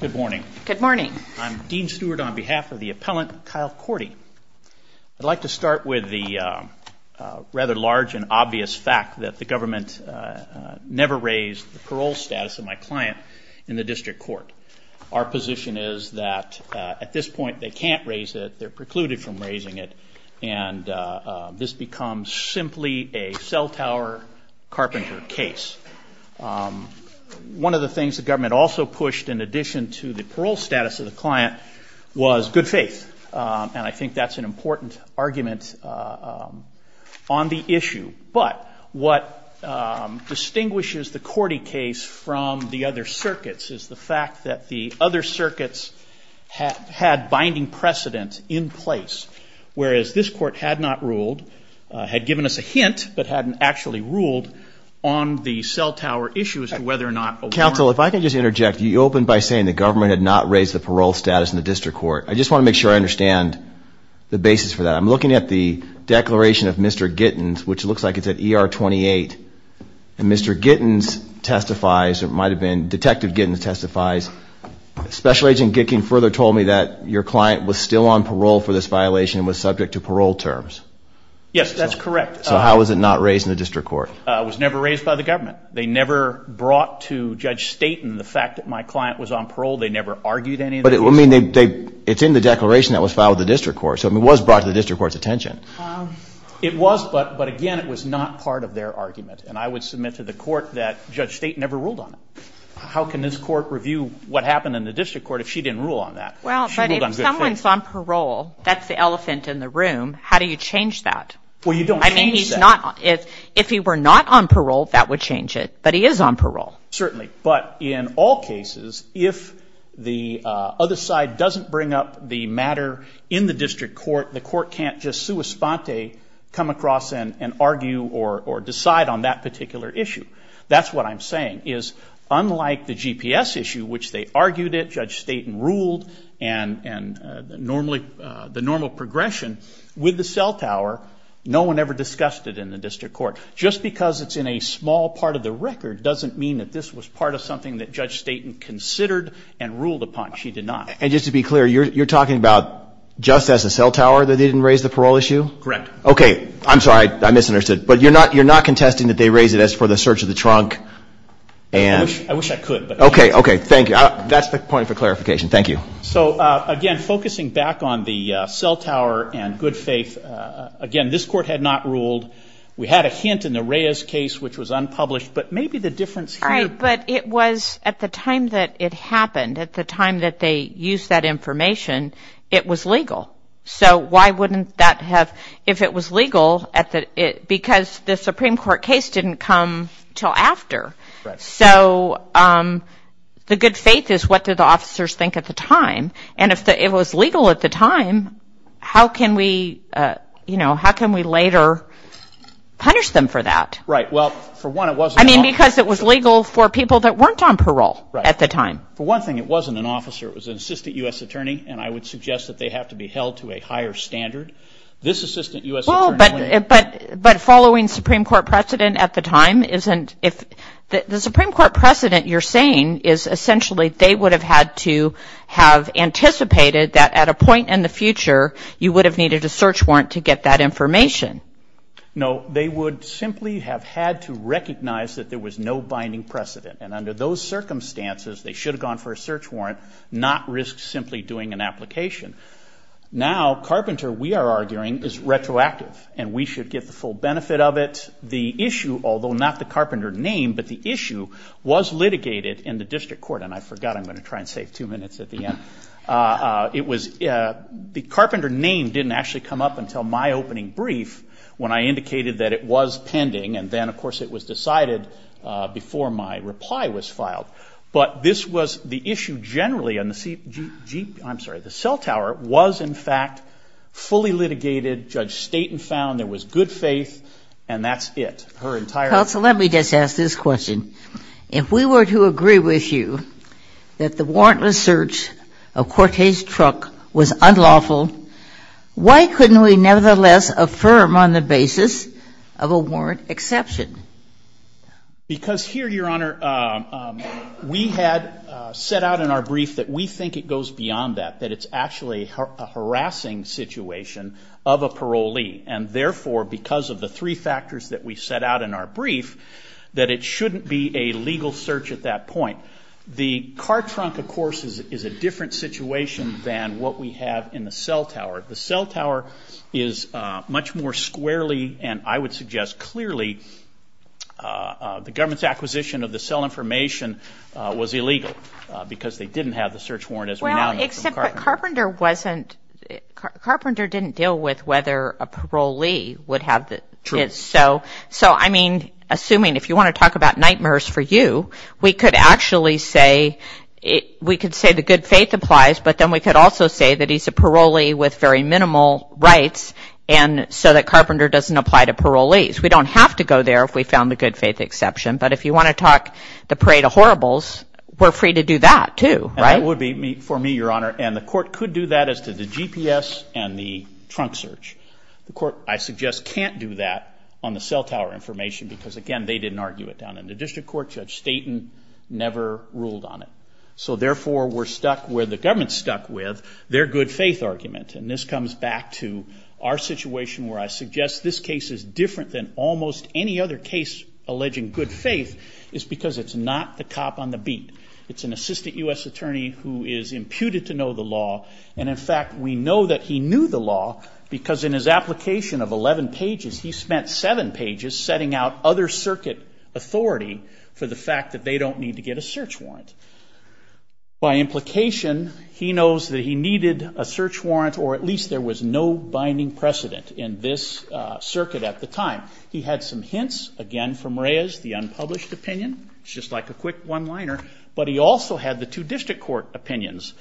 Good morning. Good morning. I'm Dean Stewart on behalf of the appellant Kyle Korte. I'd like to start with the rather large and obvious fact that the government never raised the parole status of my client in the district court. Our position is that at this point they can't raise it, they're precluded from raising it, and this becomes simply a cell tower carpenter case. One of the things the government also pushed in addition to the parole status of the client was good faith, and I think that's an important argument on the issue. But what distinguishes the Korte case from the other circuits is the fact that the other circuits had binding precedent in place, whereas this court had not ruled, had given us a hint, but hadn't actually ruled on the cell tower issue as to whether or not a warrant. Dean Stewart Counsel, if I can just interject. You opened by saying the government had not raised the parole status in the district court. I just want to make sure I understand the basis for that. I'm looking at the declaration of Mr. Gittins, which looks like it's at ER 28, and Mr. Gittins testifies, or it might have been Detective Gittins testifies, Special Agent Gicking further told me that your client was still on parole for this violation and was subject to parole terms. Kyle Korte Yes, that's correct. Dean Stewart So how was it not raised in the district court? Kyle Korte It was never raised by the government. They never brought to Judge Staton the fact that my client was on parole. They never argued any of this. Dean Stewart But it's in the declaration that was filed with the district court, so it was brought to the district court's attention. Kyle Korte It was, but again, it was not part of their argument, and I would submit to the court that Judge Staton never ruled on it. How can this court review what happened in the district court if she didn't rule on that? She ruled on good faith. Debra Blanco Well, but if someone's on parole, that's the elephant in the room. How do you change that? Dean Stewart Well, you don't change that. that would change it. Kyle Korte Well, but if someone's on parole, that's the change it. But he is on parole. Dean Stewart Certainly. But in all cases, if the other side doesn't bring up the matter in the district court, the court can't just sua sponte come across and argue or decide on that particular issue. That's what I'm saying, is unlike the GPS issue, which they argued it, Judge Staton ruled and the normal progression with the cell tower, no one ever discussed it in the district court. Just because it's in a small part of the record doesn't mean that this was part of something that Judge Staton considered and ruled upon. She did not. Kyle Korte And just to be clear, you're talking about just as a cell tower that they didn't raise the parole issue? Dean Stewart Correct. Kyle Korte Okay. I'm sorry. I misunderstood. But you're not contesting that they raised it as for the search of the trunk? Dean Stewart I wish I could. But I can't. Kyle Korte Okay. Okay. Thank you. That's the point for clarification. Thank you. Dean Stewart So again, focusing back on the cell tower and good faith, again, this court had not ruled. We had a hint in the Reyes case, which was unpublished. But maybe the difference here... Kyle Korte All right. But it was at the time that it happened, at the time that they used that information, it was legal. So why wouldn't that have... If it was legal at the... Because the Supreme Court case didn't come till after. So the good faith is what did the officers think at the time? And if it was legal at the time, how can we, you know, how can we later punish them for that? Dean Stewart Right. Well, for one, it wasn't... Kyle Korte I mean, because it was legal for people that weren't on parole at the time. Dean Stewart For one thing, it wasn't an officer. It was an assistant U.S. attorney. And I would suggest that they have to be held to a higher standard. This assistant U.S. attorney... Kyle Korte Well, but following Supreme Court precedent at the time isn't... The Supreme Court precedent you're saying is essentially they would have had to have anticipated that at a point in the future, you would have needed a search warrant to get that information. Dean Stewart No, they would simply have had to recognize that there was no binding precedent. And under those circumstances, they should have gone for a search warrant, not risk simply doing an application. Now Carpenter, we are arguing, is retroactive. And we should get the full benefit of it. The issue, although not the Carpenter name, but the issue was litigated in the district court. And I forgot. I'm going to try and save two minutes at the end. The Carpenter name didn't actually come up until my opening brief, when I indicated that it was pending. And then, of course, it was decided before my reply was filed. But this was the issue generally, and the cell tower was, in fact, fully litigated. Judge Staten found there was good faith. And that's it. Her entire... Judge Ginsburg Counsel, let me just ask this question. If we were to agree with you that the warrantless search of Cortez Truck was unlawful, why couldn't we nevertheless affirm on the basis of a warrant exception? Dean Stewart Because here, Your Honor, we had set out in our brief that we think it goes beyond that. That it's actually a harassing situation of a parolee. And therefore, because of the three factors that we set out in our brief, that it shouldn't be a legal search at that point. The car trunk, of course, is a different situation than what we have in the cell tower. The cell tower is much more squarely, and I would suggest clearly, the government's acquisition of the cell information was illegal, because they didn't have the search warrant as renowned from Carpenter. Carpenter didn't deal with whether a parolee would have the... So, I mean, assuming if you want to talk about nightmares for you, we could actually say the good faith applies, but then we could also say that he's a parolee with very minimal rights, and so that Carpenter doesn't apply to parolees. We don't have to go there if we found the good faith exception. But if you want to talk the parade of horribles, we're free to do that too, right? That would be for me, Your Honor, and the court could do that as to the GPS and the trunk search. The court, I suggest, can't do that on the cell tower information, because again, they didn't argue it down in the district court. Judge Staten never ruled on it. So therefore, we're stuck where the government's stuck with their good faith argument, and this comes back to our situation where I suggest this case is different than almost any other case alleging good faith, is because it's not the cop on the beat. It's an assistant U.S. attorney who is imputed to know the law, and in fact, we know that he knew the law, because in his application of 11 pages, he spent 7 pages setting out other circuit authority for the fact that they don't need to get a search warrant. By implication, he knows that he needed a search warrant, or at least there was no binding precedent in this circuit at the time. He had some hints, again, from Reyes, the unpublished opinion, it's just like a quick one-liner, but he also had the two district court opinions,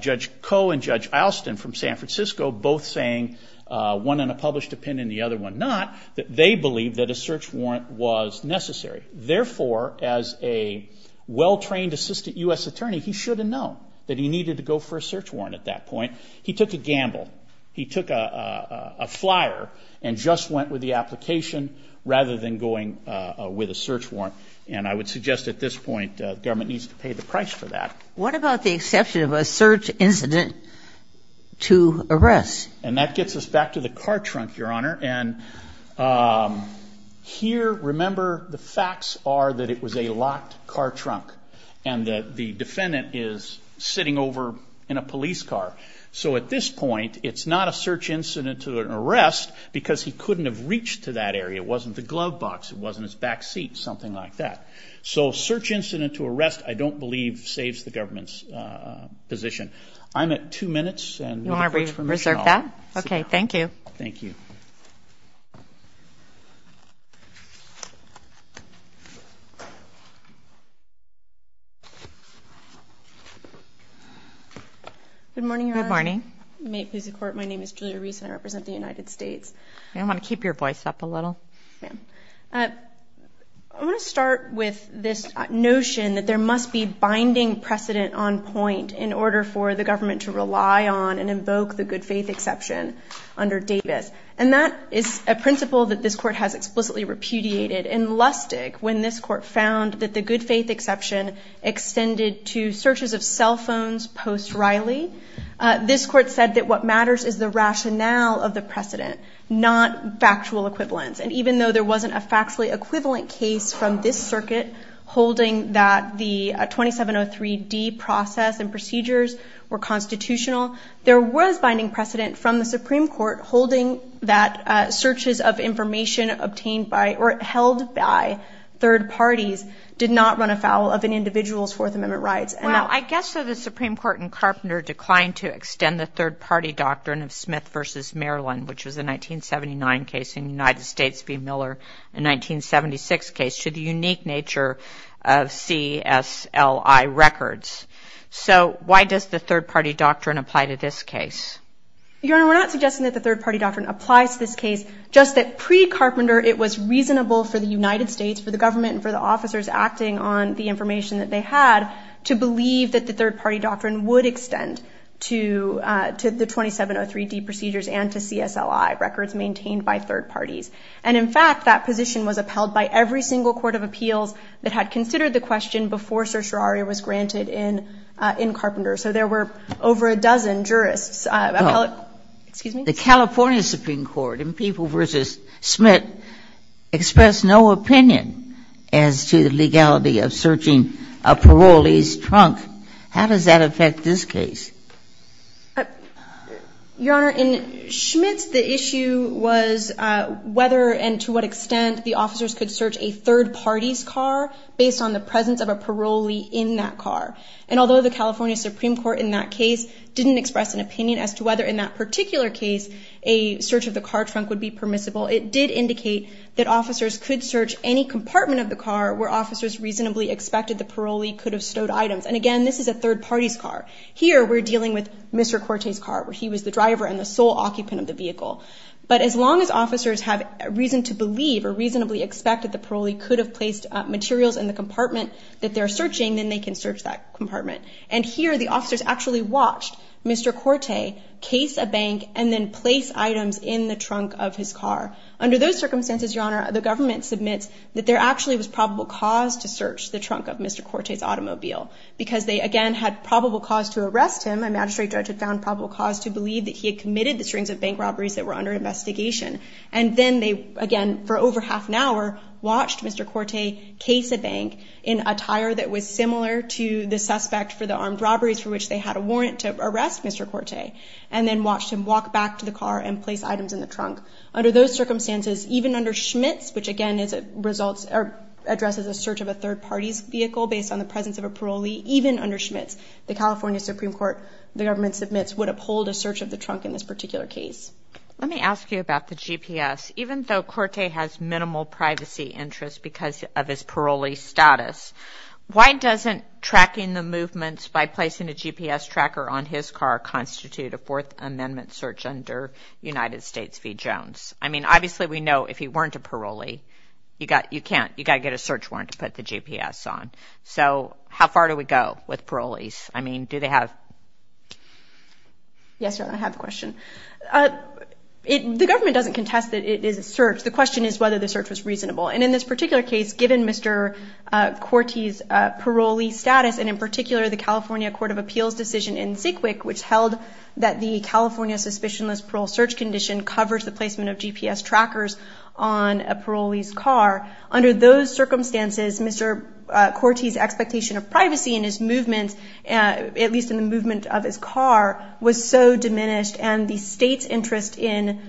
Judge Koh and Judge Alston from San Francisco both saying, one in a published opinion, the other one not, that they believed that a search warrant was necessary. Therefore, as a well-trained assistant U.S. attorney, he should have known that he needed to go for a search warrant at that point. He took a gamble. He took a flyer and just went with the application rather than going with a search warrant, and I would suggest at this point, government needs to pay the price for that. What about the exception of a search incident to arrest? And that gets us back to the car trunk, Your Honor, and here, remember, the facts are that it was a locked car trunk, and that the defendant is sitting over in a police car. So at this point, it's not a search incident to an arrest, because he couldn't have reached to that area. It wasn't the glove box. It wasn't his back seat, something like that. So a search incident to arrest, I don't believe, saves the government's position. I'm at two minutes, and with the court's permission, I'll see you now. You want to reserve that? Okay. Thank you. Thank you. Good morning, Your Honor. Good morning. May it please the Court, my name is Julia Reese, and I represent the United States. I want to keep your voice up a little. I want to start with this notion that there must be binding precedent on point in order for the government to rely on and invoke the good faith exception under Davis. And that is a principle that this Court has explicitly repudiated and lusted when this Court found that the good faith exception extended to searches of cell phones post Riley. This Court said that what matters is the rationale of the precedent, not factual equivalence. And even though there wasn't a factually equivalent case from this circuit holding that the 2703D process and procedures were constitutional, there was binding precedent from the Supreme Court holding that searches of information obtained by or held by third parties did not run afoul of an individual's Fourth Amendment rights. Well, I guess that the Supreme Court in Carpenter declined to extend the third-party doctrine of Smith v. Maryland, which was a 1979 case in the United States v. Miller, a 1976 case, to the unique nature of CSLI records. So why does the third-party doctrine apply to this case? Your Honor, we're not suggesting that the third-party doctrine applies to this case, just that pre-Carpenter it was reasonable for the United States, for the government and for the officers acting on the information that they had, to believe that the third-party doctrine would extend to the 2703D procedures and to CSLI records maintained by third parties. And in fact, that position was upheld by every single court of appeals that had considered the question before certiorari was granted in Carpenter. So there were over a dozen jurists. Well, the California Supreme Court in Peeble v. Smith expressed no opinion as to the legality of searching a parolee's trunk. How does that affect this case? Your Honor, in Schmitz, the issue was whether and to what extent the officers could search a third party's car based on the presence of a parolee in that car. And although the California Supreme Court in that case didn't express an opinion as to whether in that particular case a search of the car trunk would be permissible, it did indicate that officers could search any compartment of the car where officers reasonably expected the parolee could have stowed items. And again, this is a third party's car. Here we're dealing with Mr. Corte's car, where he was the driver and the sole occupant of the vehicle. But as long as officers have reason to believe or reasonably expect that the parolee could have placed materials in the compartment that they're searching, then they can search that compartment. And here, the officers actually watched Mr. Corte case a bank and then place items in the trunk of his car. Under those circumstances, Your Honor, the government submits that there actually was probable cause to search the trunk of Mr. Corte's automobile. Because they, again, had probable cause to arrest him. A magistrate judge had found probable cause to believe that he had committed the strings of bank robberies that were under investigation. And then they, again, for over half an hour, watched Mr. Corte case a bank in a tire that was similar to the suspect for the armed robberies for which they had a warrant to arrest Mr. Corte. And then watched him walk back to the car and place items in the trunk. Under those circumstances, even under Schmitz, which again is a results or addresses a search of a third party's vehicle based on the presence of a parolee, even under Schmitz, the California Supreme Court, the government submits, would uphold a search of the trunk in this particular case. Let me ask you about the GPS. Even though Corte has minimal privacy interest because of his parolee status, why doesn't tracking the movements by placing a GPS tracker on his car constitute a Fourth Amendment search under United States v. Jones? I mean, obviously we know if he weren't a parolee, you got, you can't, you got to get a search warrant to put the GPS on. So how far do we go with parolees? I mean, do they have? Yes, Your Honor, I have a question. The government doesn't contest that it is a search. The question is whether the search was reasonable. And in this particular case, given Mr. Corte's parolee status, and in particular the California Court of Appeals decision in Sikwik, which held that the California Suspicionless Parole Search Condition covers the placement of GPS trackers on a parolee's car. Under those circumstances, Mr. Corte's expectation of privacy in his movements, at least in the state's interest in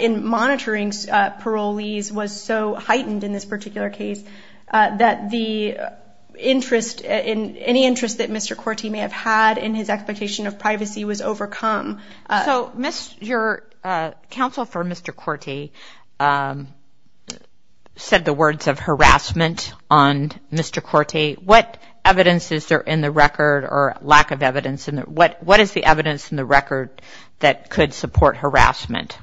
monitoring parolees, was so heightened in this particular case that the interest, any interest that Mr. Corte may have had in his expectation of privacy was overcome. So your counsel for Mr. Corte said the words of harassment on Mr. Corte. What evidence is there in the record, or lack of evidence, what is the evidence in the record that could support harassment?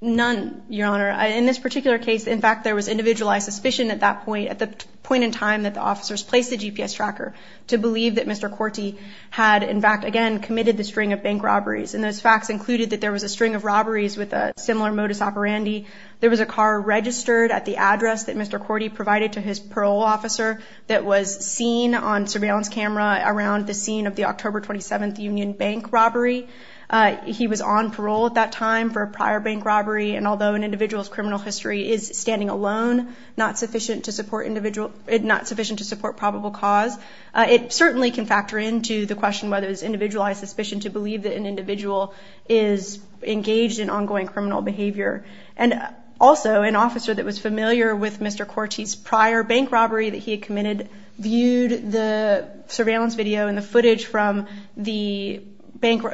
None, Your Honor. In this particular case, in fact, there was individualized suspicion at that point, at the point in time that the officers placed the GPS tracker, to believe that Mr. Corte had, in fact, again, committed the string of bank robberies. And those facts included that there was a string of robberies with a similar modus operandi. There was a car registered at the address that Mr. Corte provided to his parole officer that was seen on surveillance camera around the scene of the October 27th Union Bank robbery. He was on parole at that time for a prior bank robbery, and although an individual's criminal history is standing alone, not sufficient to support individual, not sufficient to support probable cause, it certainly can factor into the question whether it's individualized suspicion to believe that an individual is engaged in ongoing criminal behavior. And also, an officer that was familiar with Mr. Corte's prior bank robbery that he had committed, viewed the surveillance video and the footage from the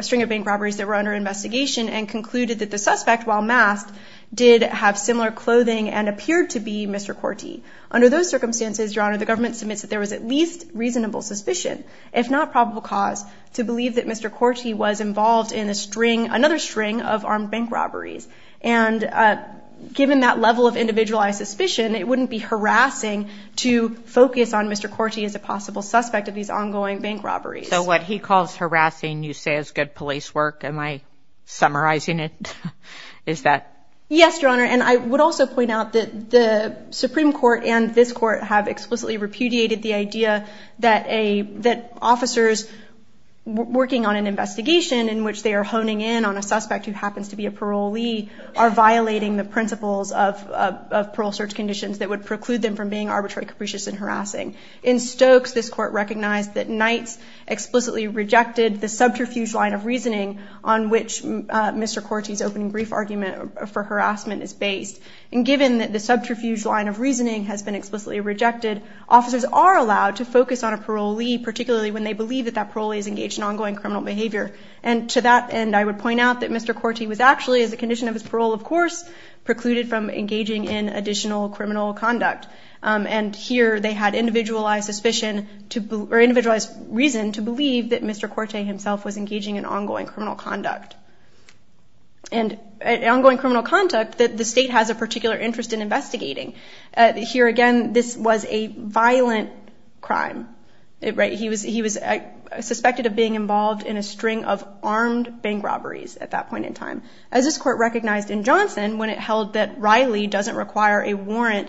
string of bank robberies that were under investigation, and concluded that the suspect, while masked, did have similar clothing and appeared to be Mr. Corte. Under those circumstances, Your Honor, the government submits that there was at least reasonable suspicion, if not probable cause, to believe that Mr. Corte was involved in the string, another string, of armed bank robberies. And given that level of individualized suspicion, it wouldn't be harassing to focus on Mr. Corte as a possible suspect of these ongoing bank robberies. So what he calls harassing, you say, is good police work? Am I summarizing it? Is that? Yes, Your Honor, and I would also point out that the Supreme Court and this Court have explicitly repudiated the idea that officers working on an investigation in which they are honing in on a suspect who happens to be a parolee are violating the principles of parole search conditions that would preclude them from being arbitrary, capricious, and harassing. In Stokes, this Court recognized that Knights explicitly rejected the subterfuge line of reasoning on which Mr. Corte's opening brief argument for harassment is based. And given that the subterfuge line of reasoning has been explicitly rejected, officers are allowed to focus on a parolee, particularly when they believe that that parolee is engaged in ongoing criminal behavior. And to that end, I would point out that Mr. Corte was actually, as a condition of his parole, of course, precluded from engaging in additional criminal conduct. And here, they had individualized suspicion or individualized reason to believe that Mr. Corte himself was engaging in ongoing criminal conduct. And ongoing criminal conduct that the state has a particular interest in investigating. Here again, this was a violent crime. He was suspected of being involved in a string of armed bank robberies at that point in time. As this Court recognized in Johnson, when it held that Riley doesn't require a warrant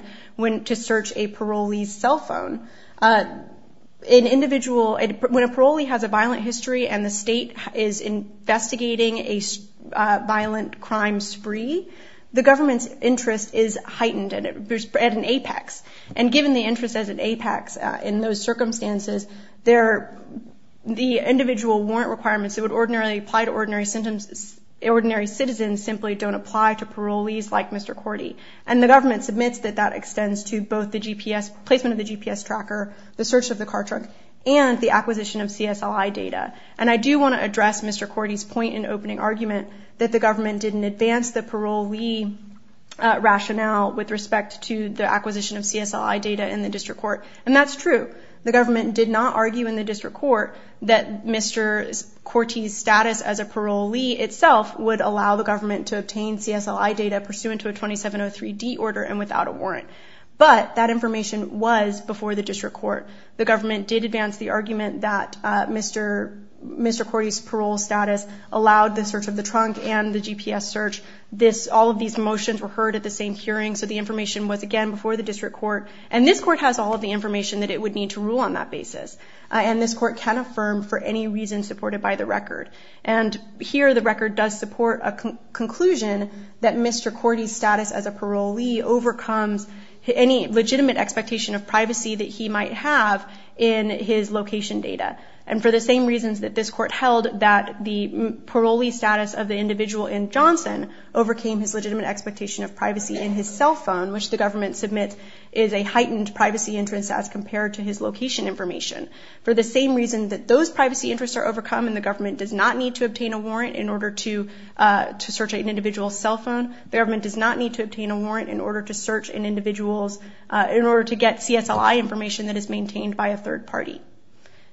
to search a parolee's cell phone, when a parolee has a violent history and the state is investigating a violent crime spree, the government's interest is heightened at an apex. And given the interest as an apex in those circumstances, the individual warrant requirements that would ordinarily apply to ordinary citizens simply don't apply to parolees like Mr. Corte. And the government submits that that extends to both the placement of the GPS tracker, the search of the car truck, and the acquisition of CSLI data. And I do want to address Mr. Corte's point in opening argument that the government didn't advance the parolee rationale with respect to the acquisition of CSLI data in the district court. And that's true. The government did not argue in the district court that Mr. Corte's status as a parolee itself would allow the government to obtain CSLI data pursuant to a 2703D order and without a warrant. But that information was before the district court. The government did advance the argument that Mr. Corte's parole status allowed the search of the trunk and the GPS search. All of these motions were heard at the same hearing, so the information was, again, before the district court. And this court has all of the information that it would need to rule on that basis. And this court can affirm for any reason supported by the record. And here, the record does support a conclusion that Mr. Corte's status as a parolee overcomes any legitimate expectation of privacy that he might have in his location data. And for the same reasons that this court held that the parolee status of the individual in Johnson overcame his legitimate expectation of privacy in his cell phone, which the government submits is a heightened privacy interest as compared to his location information. For the same reason that those privacy interests are overcome and the government does not need to obtain a warrant in order to search an individual's cell phone, the government does not need to obtain a warrant in order to search an individual's, in order to get CSLI information that is maintained by a third party.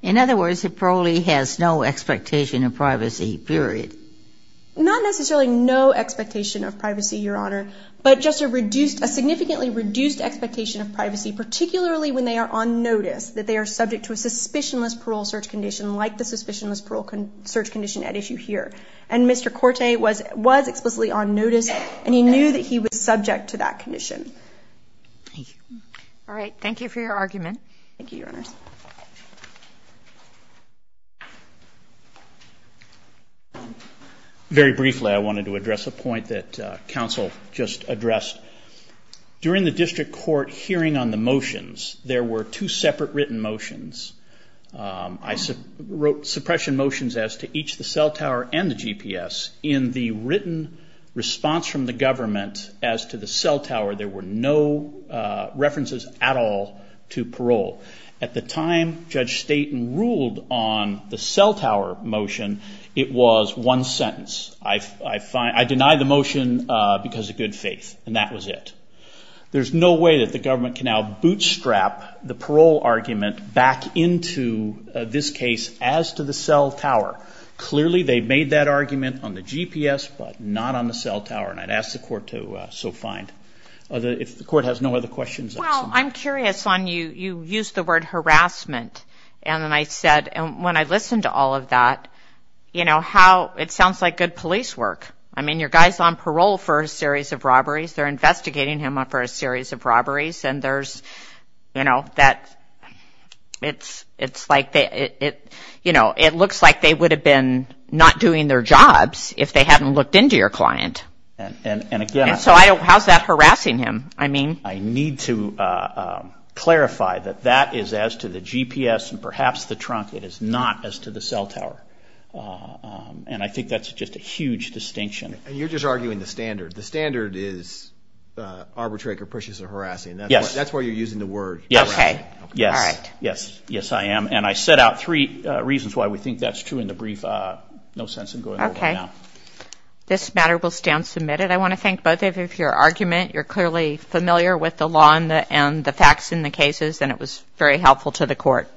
In other words, the parolee has no expectation of privacy, period. Not necessarily no expectation of privacy, Your Honor, but just a reduced, a significantly reduced expectation of privacy, particularly when they are on notice that they are subject to a suspicionless parole search condition like the suspicionless parole search condition at issue here. And Mr. Corte was, was explicitly on notice and he knew that he was subject to that condition. Thank you. All right. Thank you for your argument. Thank you, Your Honors. Very briefly, I wanted to address a point that counsel just addressed. During the district court hearing on the motions, there were two separate written motions. I wrote suppression motions as to each the cell tower and the GPS. In the written response from the government as to the cell tower, there were no references at all to parole. At the time Judge Staten ruled on the cell tower motion, it was one sentence. I find, I deny the motion because of good faith, and that was it. There's no way that the government can now bootstrap the parole argument back into this case as to the cell tower. Clearly they made that argument on the GPS, but not on the cell tower, and I'd ask the court to so find. If the court has no other questions. Well, I'm curious on, you used the word harassment, and then I said, when I listened to all of that, you know how it sounds like good police work. I mean, your guy's on parole for a series of robberies. They're investigating him for a series of robberies, and there's, you know, that it's like, you know, it looks like they would have been not doing their jobs if they hadn't looked into your client, and so how's that harassing him? I need to clarify that that is as to the GPS, and perhaps the trunk, it is not as to the cell tower, and I think that's just a huge distinction. You're just arguing the standard. The standard is arbitrary capricious or harassing. That's where you're using the word harassment. Yes. Yes. Yes, I am, and I set out three reasons why we think that's true in the brief. No sense in going over them now. This matter will stand submitted. I want to thank both of you for your argument. You're clearly familiar with the law and the facts in the cases, and it was very helpful to the court.